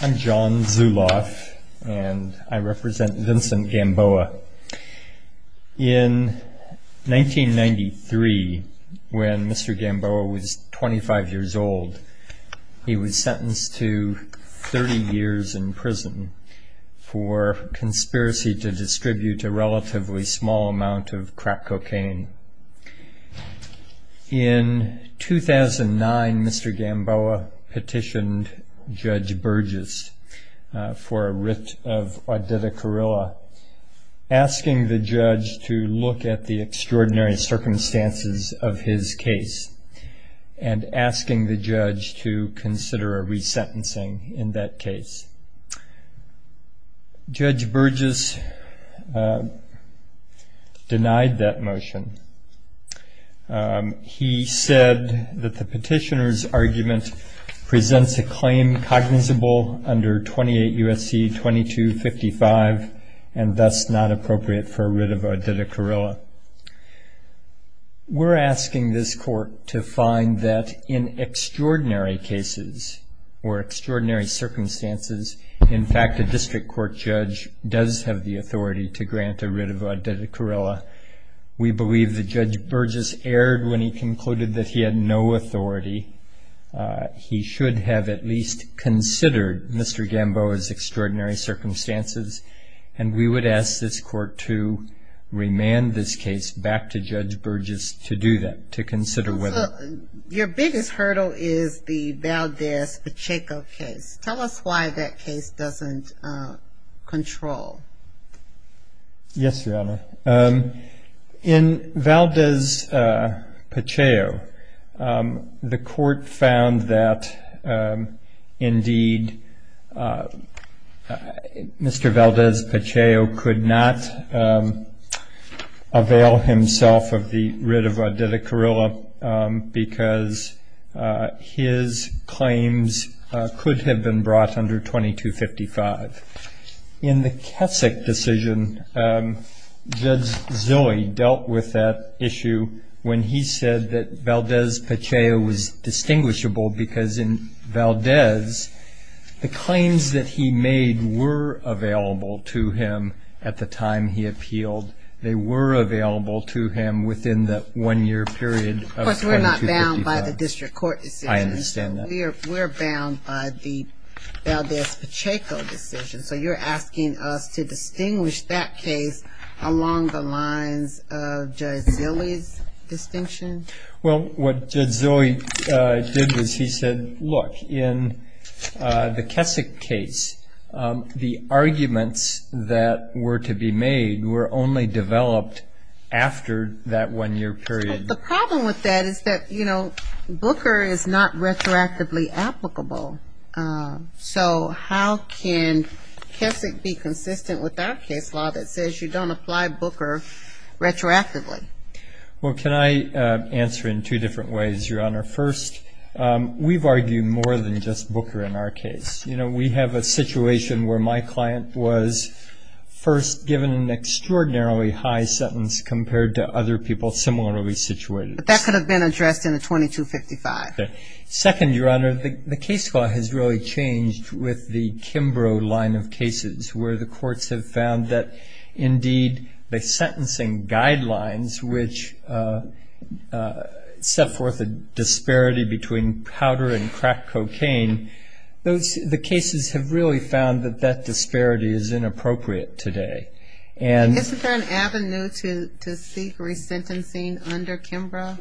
I'm John Zuloff and I represent Vincent Gamboa. In 1993, when Mr. Gamboa was 25 years old, he was sentenced to 30 years in prison for conspiracy to distribute a relatively small amount of crack cocaine. In 2009, Mr. Gamboa petitioned Judge Burgess for a writ of Auditor Corrella, asking the judge to look at the extraordinary circumstances of his case and asking the judge to consider resentencing in that case. Judge Burgess denied that motion. He said that the under 28 U.S.C. 2255 and thus not appropriate for a writ of Auditor Corrella. We're asking this court to find that in extraordinary cases or extraordinary circumstances, in fact, a district court judge does have the authority to grant a writ of Auditor Corrella. We believe that Judge Burgess erred when he concluded that he had no authority. He should have at least considered Mr. Gamboa's extraordinary circumstances and we would ask this court to remand this case back to Judge Burgess to do that, to consider whether... Your biggest hurdle is the Valdez-Pacheco case. Tell us why that case doesn't control. Yes, Your Honor. In Valdez-Pacheco, the court found that indeed Mr. Valdez-Pacheco could not avail himself of the writ of Auditor Corrella because his claims could have been issued when he said that Valdez-Pacheco was distinguishable because in Valdez, the claims that he made were available to him at the time he appealed. They were available to him within the one-year period of 2255. Of course, we're not bound by the district court decision. I understand that. We're bound by the Valdez-Pacheco decision, so you're asking us to distinguish that case along the lines of Zilly's distinction? Well, what Zilly did was he said, look, in the Kessick case, the arguments that were to be made were only developed after that one-year period. The problem with that is that, you know, Booker is not retroactively applicable, so how can Kessick be consistent with our case law that says you don't apply Booker retroactively? Well, can I answer in two different ways, Your Honor? First, we've argued more than just Booker in our case. You know, we have a situation where my client was first given an extraordinarily high sentence compared to other people similarly situated. But that could have been addressed in a 2255. Second, Your Honor, the case law has really changed with the Kimbrough line of re-sentencing guidelines, which set forth a disparity between powder and crack cocaine. The cases have really found that that disparity is inappropriate today. Isn't there an avenue to seek re-sentencing under Kimbrough?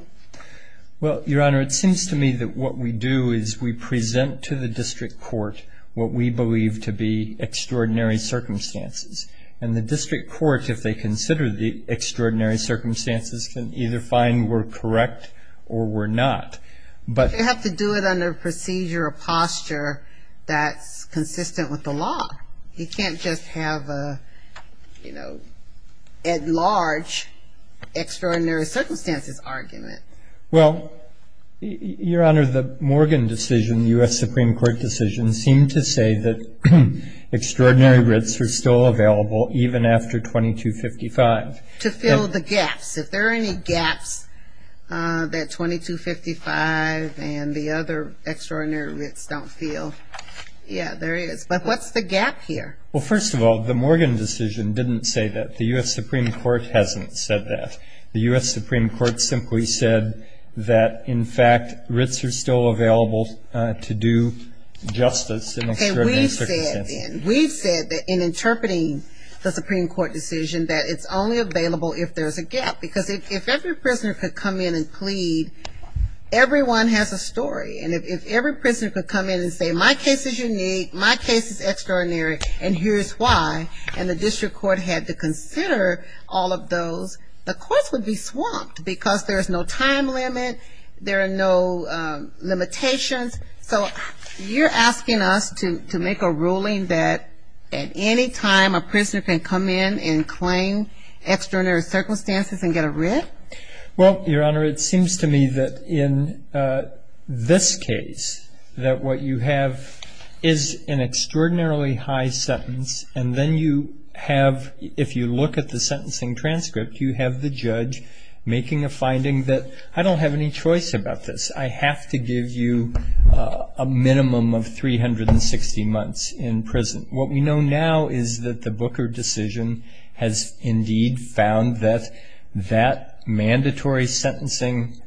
Well, Your Honor, it seems to me that what we do is we present to the district court what we believe to be extraordinary circumstances. And the extraordinary circumstances can either find we're correct or we're not. But you have to do it under a procedure or posture that's consistent with the law. You can't just have a, you know, at large extraordinary circumstances argument. Well, Your Honor, the Morgan decision, the U.S. Supreme Court decision, seemed to say that extraordinary writs are still available even after 2255. To fill the gaps. If there are any gaps that 2255 and the other extraordinary writs don't fill. Yeah, there is. But what's the gap here? Well, first of all, the Morgan decision didn't say that. The U.S. Supreme Court hasn't said that. The U.S. Supreme Court simply said that, in fact, writs are still available to do justice in extraordinary circumstances. We've said that in interpreting the Supreme Court decision that it's only available if there's a gap. Because if every prisoner could come in and plead, everyone has a story. And if every prisoner could come in and say, my case is unique, my case is extraordinary, and here's why. And the district court had to consider all of those, the courts would be swamped because there's no limitations. So you're asking us to make a ruling that at any time a prisoner can come in and claim extraordinary circumstances and get a writ? Well, Your Honor, it seems to me that in this case, that what you have is an extraordinarily high sentence. And then you have, if you look at the sentencing transcript, you have the judge making a finding that I don't have any choice about this. I have to give you a minimum of 360 months in prison. What we know now is that the Booker decision has indeed found that that mandatory sentencing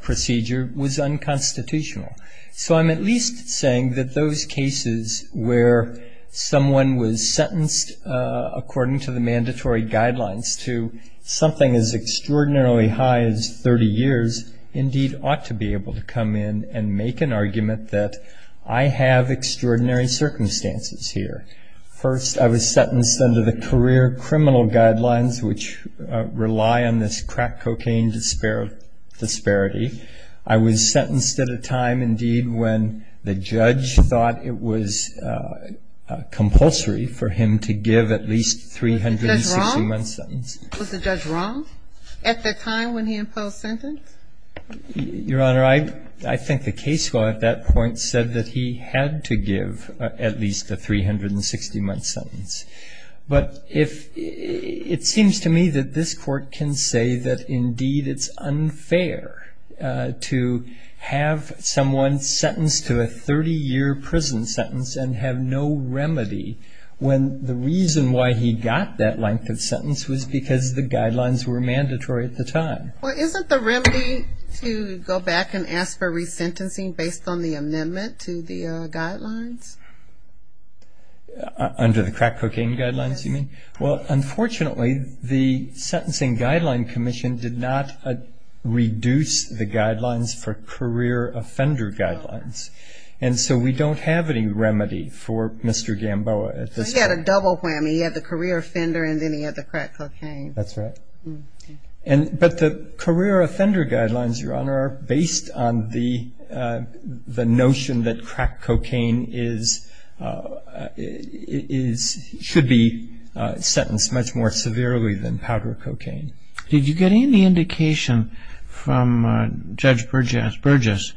procedure was unconstitutional. So I'm at least saying that those cases where someone was sentenced according to the mandatory guidelines to something as extraordinarily high as 30 years indeed ought to be able to come in and make an argument that I have extraordinary circumstances here. First, I was sentenced under the career criminal guidelines, which rely on this crack cocaine disparity. I was sentenced at a time indeed when the judge thought it was compulsory for him to give at least a 360-month sentence. Was the judge wrong at the time when he imposed sentence? Your Honor, I think the case law at that point said that he had to give at least a 360-month sentence. But it seems to me that this court can say that indeed it's unfair to have someone sentenced to a 30-year prison sentence and have no guarantee that he's going to get that length of sentence was because the guidelines were mandatory at the time. Well, isn't the remedy to go back and ask for resentencing based on the amendment to the guidelines? Under the crack cocaine guidelines, you mean? Well, unfortunately, the Sentencing Guideline Commission did not reduce the guidelines for career offender guidelines. And so we don't have any remedy for Mr. Gamboa at this point. He had a double whammy. He had the career offender and then he had the crack cocaine. That's right. But the career offender guidelines, Your Honor, are based on the notion that crack cocaine should be sentenced much more severely than powder cocaine. Did you get any indication from Judge Burgess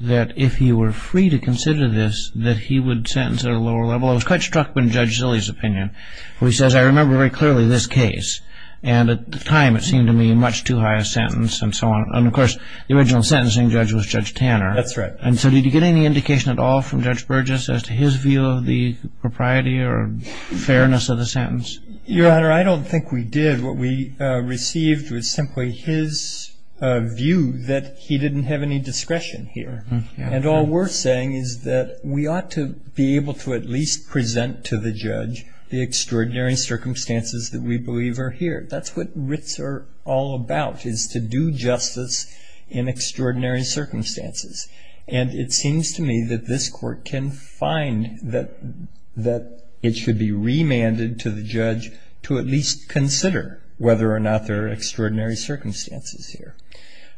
that if he were free to consider this, that he would sentence at a lower level? I was quite struck by Judge Zille's opinion, where he says, I remember very clearly this case. And at the time, it seemed to me much too high a sentence and so on. And of course, the original sentencing judge was Judge Tanner. That's right. And so did you get any indication at all from Judge Burgess as to his view of the propriety or fairness of the sentence? Your Honor, I don't think we did. What we received was simply his view that he didn't have any discretion here. And all we're saying is that we ought to be able to at least present to the judge the extraordinary circumstances that we believe are here. That's what writs are all about, is to do justice in extraordinary circumstances. And it seems to me that this Court can find that it should be remanded to the judge to at least consider whether or not there are exceptional circumstances. And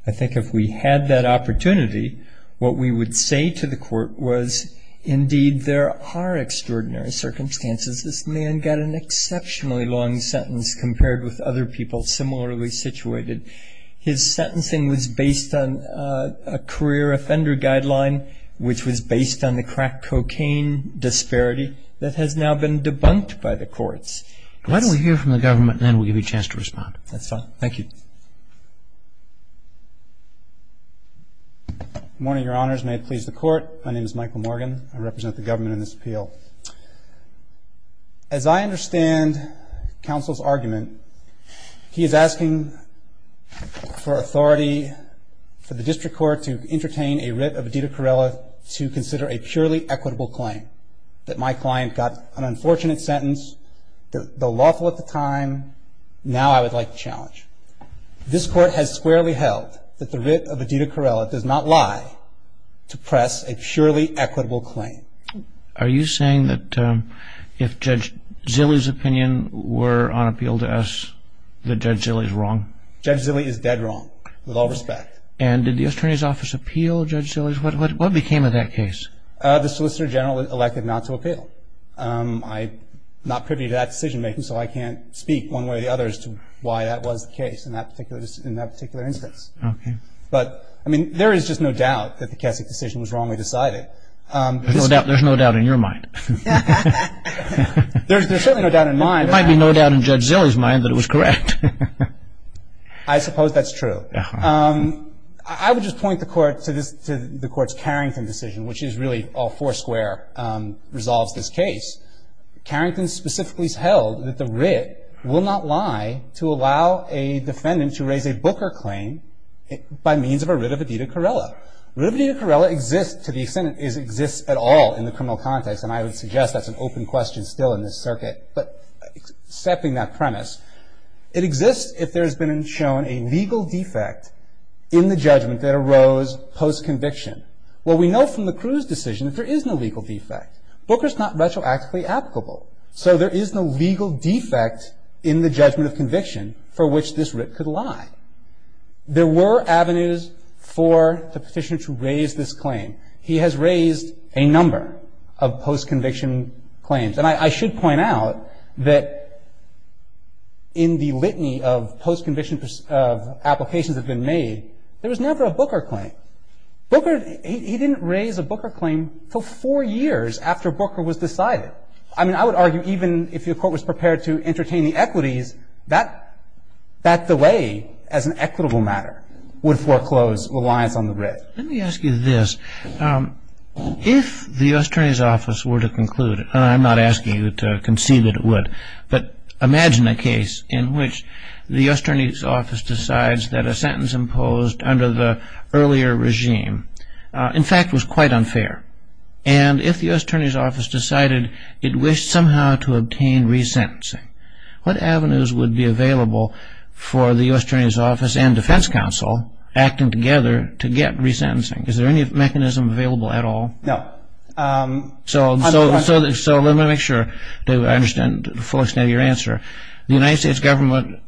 if there is an opportunity, what we would say to the Court was, indeed, there are extraordinary circumstances. This man got an exceptionally long sentence compared with other people similarly situated. His sentencing was based on a career offender guideline, which was based on the crack cocaine disparity that has now been debunked by the courts. Why don't we hear from the government, and then we'll give you a chance to respond. That's fine. Thank you. Good morning, Your Honors. May it please the Court. My name is Michael Morgan. I represent the government in this appeal. As I understand Counsel's argument, he is asking for authority for the District Court to entertain a writ of Adida Corrella. The lawful at the time, now I would like to challenge. This Court has squarely held that the writ of Adida Corrella does not lie to press a surely equitable claim. Are you saying that if Judge Zille's opinion were on appeal to us, that Judge Zille is wrong? Judge Zille is dead wrong, with all respect. And did the Attorney's Office appeal Judge Zille's? What became of that case? The Solicitor General elected not to appeal. I'm not privy to that decision-making, so I can't speak one way or the other as to why that was the case in that particular instance. But, I mean, there is just no doubt that the Keswick decision was wrongly decided. There's no doubt in your mind. There's certainly no doubt in mine. There might be no doubt in Judge Zille's mind that it was correct. I suppose that's true. I would just point the Court to the Court's Carrington decision, which is really all foursquare resolves this case. Carrington specifically has held that the writ will not lie to allow a defendant to raise a Booker claim by means of a writ of Adida Corrella. Writ of Adida Corrella exists to the extent it exists at all in the criminal context, and I would suggest that's an open question still in this circuit. But accepting that premise, it exists if there has been shown a legal defect in the judgment that arose post-conviction. Well, we know from the Cruz decision that there is no legal defect. Booker's not retroactively applicable, so there is no legal defect in the judgment of conviction for which this writ could lie. There were avenues for the petitioner to raise this claim. He has raised a number of post-conviction claims. And I should point out that in the litany of post-conviction applications that have been made, there was never a Booker claim. Booker, he didn't raise a Booker claim until four years after Booker was decided. I mean, I would argue even if your Court was prepared to entertain the equities, that delay as an equitable matter would foreclose reliance on the writ. Let me ask you this. If the U.S. Attorney's Office were to conclude, and I'm not asking you to concede that it would, but imagine a case in which the U.S. Attorney's Office decides that a sentence imposed under the earlier regime, in fact, was quite unfair. And if the U.S. Attorney's Office decided it wished somehow to obtain resentencing, what avenues would be available for the U.S. Attorney's Office and Defense Counsel, acting together, to get resentencing? Is there any mechanism available at all? No. So let me make sure that I understand the full extent of your answer. The United States Government,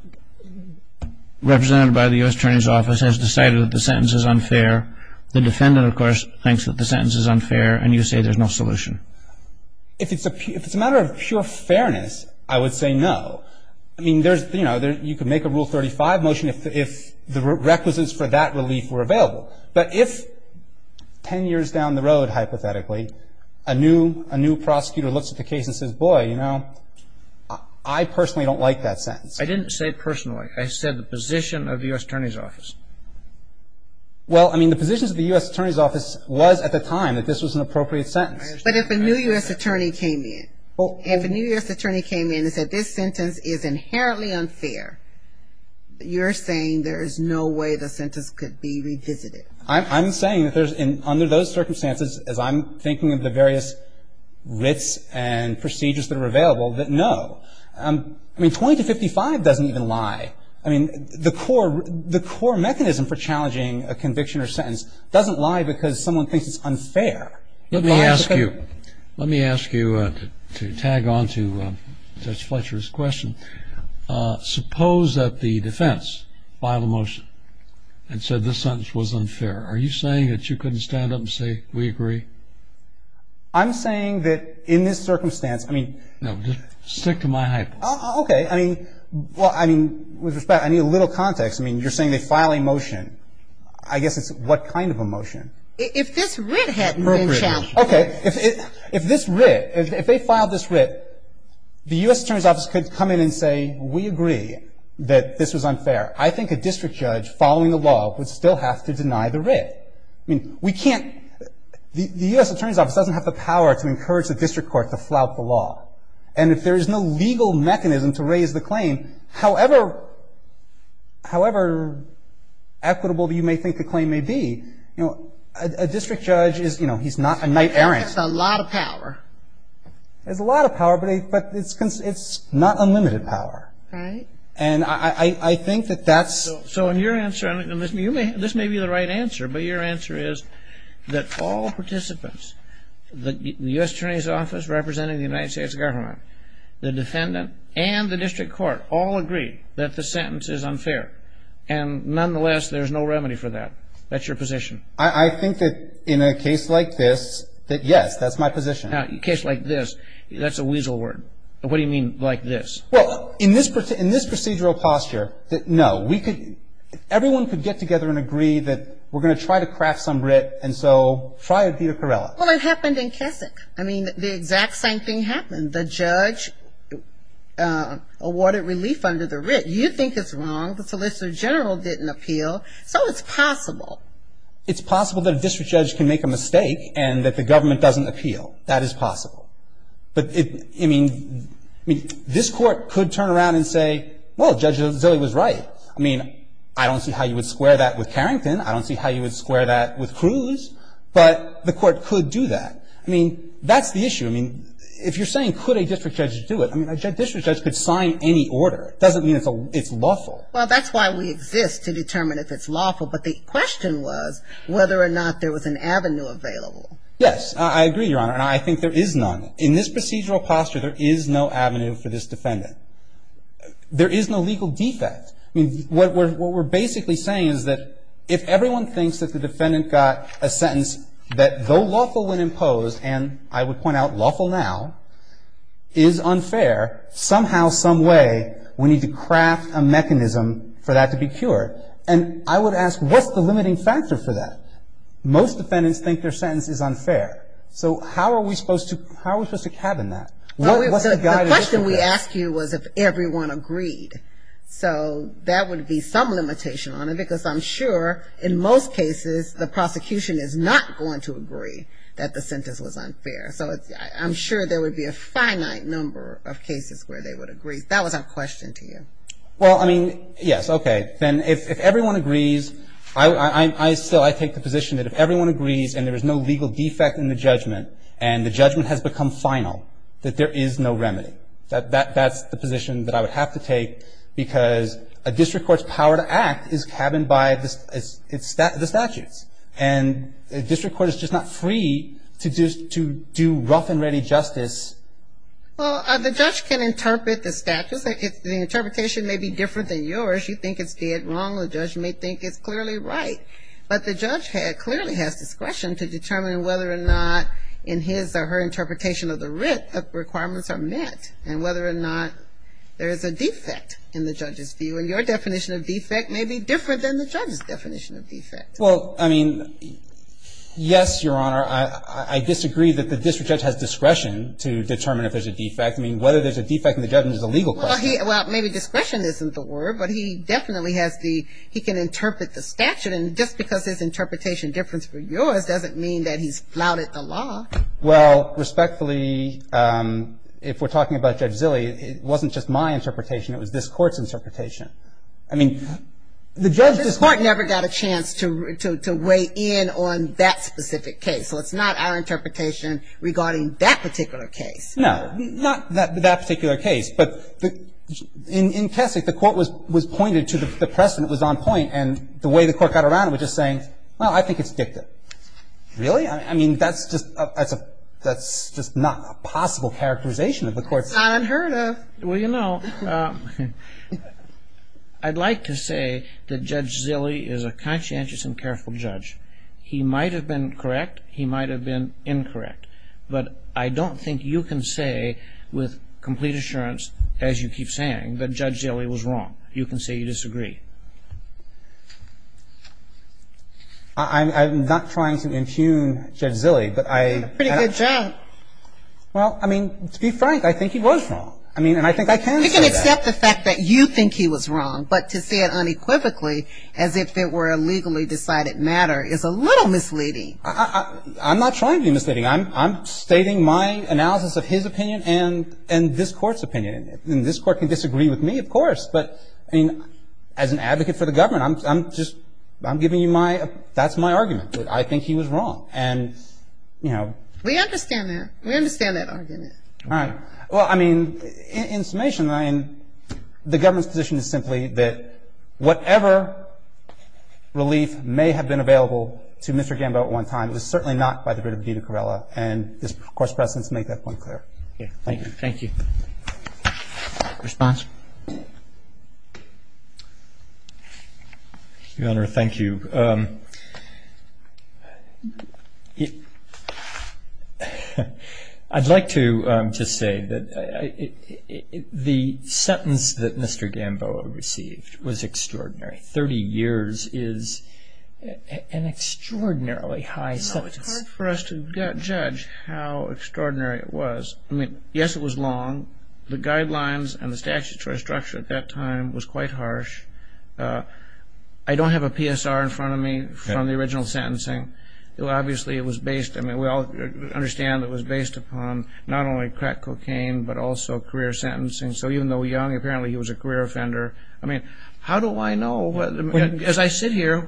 represented by the U.S. Attorney's Office, has decided that the sentence is unfair. The defendant, of course, thinks that the sentence is unfair, and you say there's no solution. If it's a matter of pure fairness, I would say no. I mean, there's, you know, you could make a Rule 35 motion if the requisites for that relief were available. But if ten years down the road, hypothetically, a new prosecutor looks at the case and says, boy, you know, I personally don't like that sentence. I didn't say personally. I said the position of the U.S. Attorney's Office. Well, I mean, the position of the U.S. Attorney's Office was at the time that this was an appropriate sentence. But if a new U.S. attorney came in, if a new U.S. attorney came in and said this sentence is inherently unfair, you're saying there's no way the sentence could be visited. I'm saying that there's, under those circumstances, as I'm thinking of the various writs and procedures that are available, that no. I mean, 20 to 55 doesn't even lie. I mean, the core mechanism for challenging a conviction or sentence doesn't lie because someone thinks it's unfair. Let me ask you, let me ask you to tag on to Judge Fletcher's question. Suppose that the defense filed a motion and said this sentence was unfair. Are you saying that you couldn't stand up and say, we agree? I'm saying that in this circumstance, I mean. No, just stick to my hypothesis. Okay. I mean, well, I mean, with respect, I need a little context. I mean, you're saying they file a motion. I guess it's what kind of a motion? If this writ had been challenged. Okay. If this writ, if they filed this writ, the U.S. Attorney's Office could come in and say, we agree that this was unfair. I think a district judge following the law would still have to deny the writ. I mean, we can't, the U.S. Attorney's Office doesn't have the power to encourage the district court to flout the law. And if there is no legal mechanism to raise the claim, however, however equitable you may think the claim may be, you know, a district judge is, you know, he's got a lot of power. There's a lot of power, but it's not unlimited power. Right. And I think that that's. So in your answer, and this may be the right answer, but your answer is that all participants, the U.S. Attorney's Office representing the United States government, the defendant and the district court all agree that the sentence is unfair. And nonetheless, there's no remedy for that. That's your position. I think that in a case like this, that, yes, that's my position. Now, in a case like this, that's a weasel word. What do you mean, like this? Well, in this procedural posture, no, we could, everyone could get together and agree that we're going to try to craft some writ, and so try it via Corella. Well, it happened in Keswick. I mean, the exact same thing happened. The judge awarded relief under the writ. You think it's wrong. The Solicitor General didn't appeal, so it's possible. It's possible that a district judge can make a mistake and that the government doesn't appeal. That is possible. But it, I mean, I mean, this Court could turn around and say, well, Judge Zille was right. I mean, I don't see how you would square that with Carrington. I don't see how you would square that with Cruz. But the Court could do that. I mean, that's the issue. I mean, if you're saying could a district judge do it, I mean, a district judge could sign any order. It doesn't mean it's lawful. Well, that's why we exist, to determine if it's lawful. But the question was whether or not there was an avenue available. Yes, I agree, Your Honor. And I think there is none. In this procedural posture, there is no avenue for this defendant. There is no legal defect. I mean, what we're basically saying is that if everyone thinks that the defendant got a sentence that, though lawful when imposed, and I would point out lawful now, is unfair, somehow, some way, we need to craft a mechanism for that to be cured. And I would ask, what's the limiting factor for that? Most defendants think their sentence is unfair. So how are we supposed to cabin that? The question we asked you was if everyone agreed. So that would be some limitation on it, because I'm sure in most cases the prosecution is not going to agree that the sentence was unfair. So I'm sure there would be a finite number of cases where they would agree. That was our question to you. Well, I mean, yes, okay. Then if everyone agrees, I still take the position that if everyone agrees and there is no legal defect in the judgment and the judgment has become final, that there is no remedy. That's the position that I would have to take because a district court's power to act is cabined by the statutes. And a district court is just not free to do rough-and-ready justice. Well, the judge can interpret the statutes. The interpretation may be different than yours. You think it's dead wrong. The judge may think it's clearly right. But the judge clearly has discretion to determine whether or not in his or her interpretation of the writ requirements are met and whether or not there is a defect in the judge's view. And your definition of defect may be different than the judge's definition of defect. Well, I mean, yes, Your Honor. I disagree that the district judge has discretion to determine if there's a defect. I mean, whether there's a defect in the judgment is a legal question. Well, maybe discretion isn't the word. But he definitely has the he can interpret the statute. And just because there's interpretation difference for yours doesn't mean that he's flouted the law. Well, respectfully, if we're talking about Judge Zille, it wasn't just my interpretation. It was this Court's interpretation. I mean, the judge just This Court never got a chance to weigh in on that specific case. So it's not our interpretation regarding that particular case. No, not that particular case. But in Keswick, the Court was pointed to the precedent was on point. And the way the Court got around it was just saying, well, I think it's dictative. Really? I mean, that's just not a possible characterization of the Court's It's not unheard of. Well, you know, I'd like to say that Judge Zille is a conscientious and careful judge. He might have been correct. He might have been incorrect. But I don't think you can say with complete assurance, as you keep saying, that Judge Zille was wrong. You can say you disagree. I'm not trying to impugn Judge Zille, but I Pretty good joke. Well, I mean, to be frank, I think he was wrong. I mean, and I think I can say that. You can accept the fact that you think he was wrong, but to say it unequivocally, as if it were a legally decided matter, is a little misleading. I'm not trying to be misleading. I'm stating my analysis of his opinion and this Court's opinion. And this Court can disagree with me, of course. But, I mean, as an advocate for the government, I'm just giving you my That's my argument. I think he was wrong. And, you know We understand that. We understand that argument. All right. Well, I mean, in summation, I mean, the government's position is simply that whatever relief may have been available to Mr. Gambo at one time was certainly not by the writ of Dena Corrella. And this Court's precedents make that point clear. Thank you. Thank you. Response? Your Honor, thank you. I'd like to just say that the sentence that Mr. Gambo received was extraordinary. Thirty years is an extraordinarily high sentence. No, it's hard for us to judge how extraordinary it was. I mean, yes, it was long. The guidelines and the statutory structure at that time was quite harsh. I don't have a PSR in front of me from the original sentencing. Obviously, it was based, I mean, we all understand it was based upon not only crack cocaine, but also career sentencing. So even though Young, apparently, he was a career offender. I mean, how do I know, as I sit here,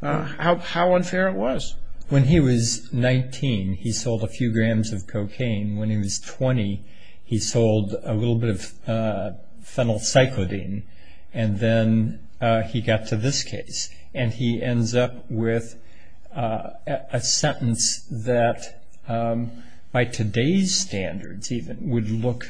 how unfair it was? When he was 19, he sold a few grams of cocaine. When he was 20, he sold a little bit of phenylcycladine. And then he got to this case. And he ends up with a sentence that, by today's standards even, would look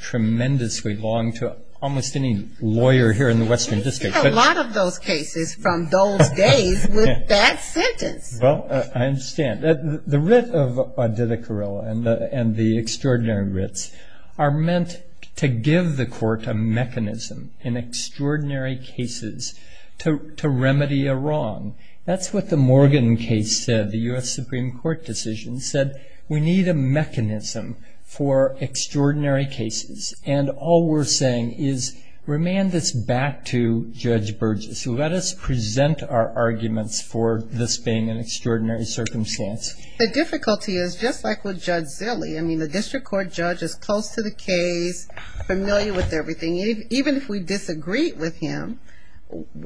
tremendously long to almost any lawyer here in the Western District. We've seen a lot of those cases from those days with that sentence. Well, I understand. The writ of Odetta Carrillo and the extraordinary writs are meant to give the court a mechanism in extraordinary cases to remedy a wrong. That's what the Morgan case said, the U.S. Supreme Court decision said. We need a mechanism for extraordinary cases. And all we're saying is remand this back to Judge Burgess. Let us present our arguments for this being an extraordinary circumstance. The difficulty is, just like with Judge Zille, I mean, the district court judge is close to the case, familiar with everything. Even if we disagreed with him,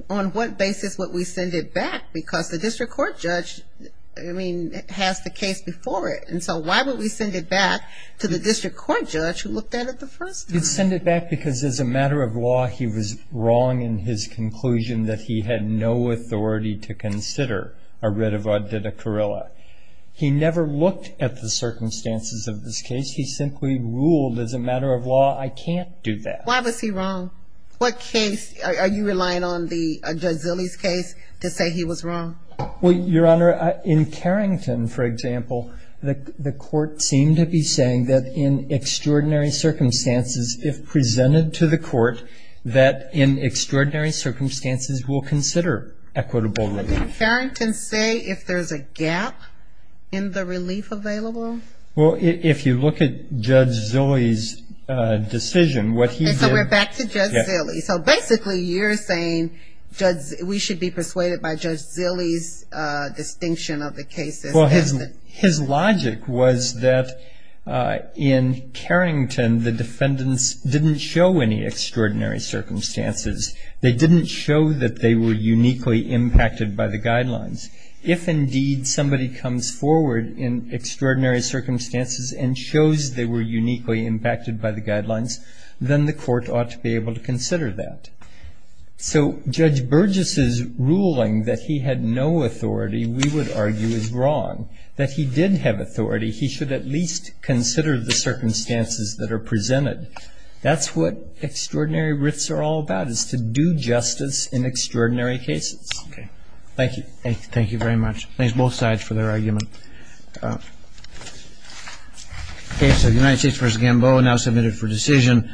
on what basis would we send it back? Because the district court judge, I mean, has the case before it. And so why would we send it back to the district court judge who looked at it the first time? You'd send it back because, as a matter of law, he was wrong in his conclusion that he had no authority to consider a writ of Odetta Carrillo. He never looked at the circumstances of this case. He simply ruled, as a matter of law, I can't do that. Why was he wrong? Are you relying on Judge Zille's case to say he was wrong? Well, Your Honor, in Carrington, for example, the court seemed to be saying that, in extraordinary circumstances, if presented to the court, that in extraordinary circumstances we'll consider equitable relief. But did Carrington say if there's a gap in the relief available? Well, if you look at Judge Zille's decision, what he did was he said, So basically you're saying we should be persuaded by Judge Zille's distinction of the cases. Well, his logic was that in Carrington the defendants didn't show any extraordinary circumstances. They didn't show that they were uniquely impacted by the guidelines. If, indeed, somebody comes forward in extraordinary circumstances then the court ought to be able to consider that. So Judge Burgess's ruling that he had no authority, we would argue, is wrong. That he did have authority, he should at least consider the circumstances that are presented. That's what extraordinary writs are all about, is to do justice in extraordinary cases. Okay. Thank you. Thank you very much. Thanks, both sides, for their argument. The case of United States v. Gamboa now submitted for decision.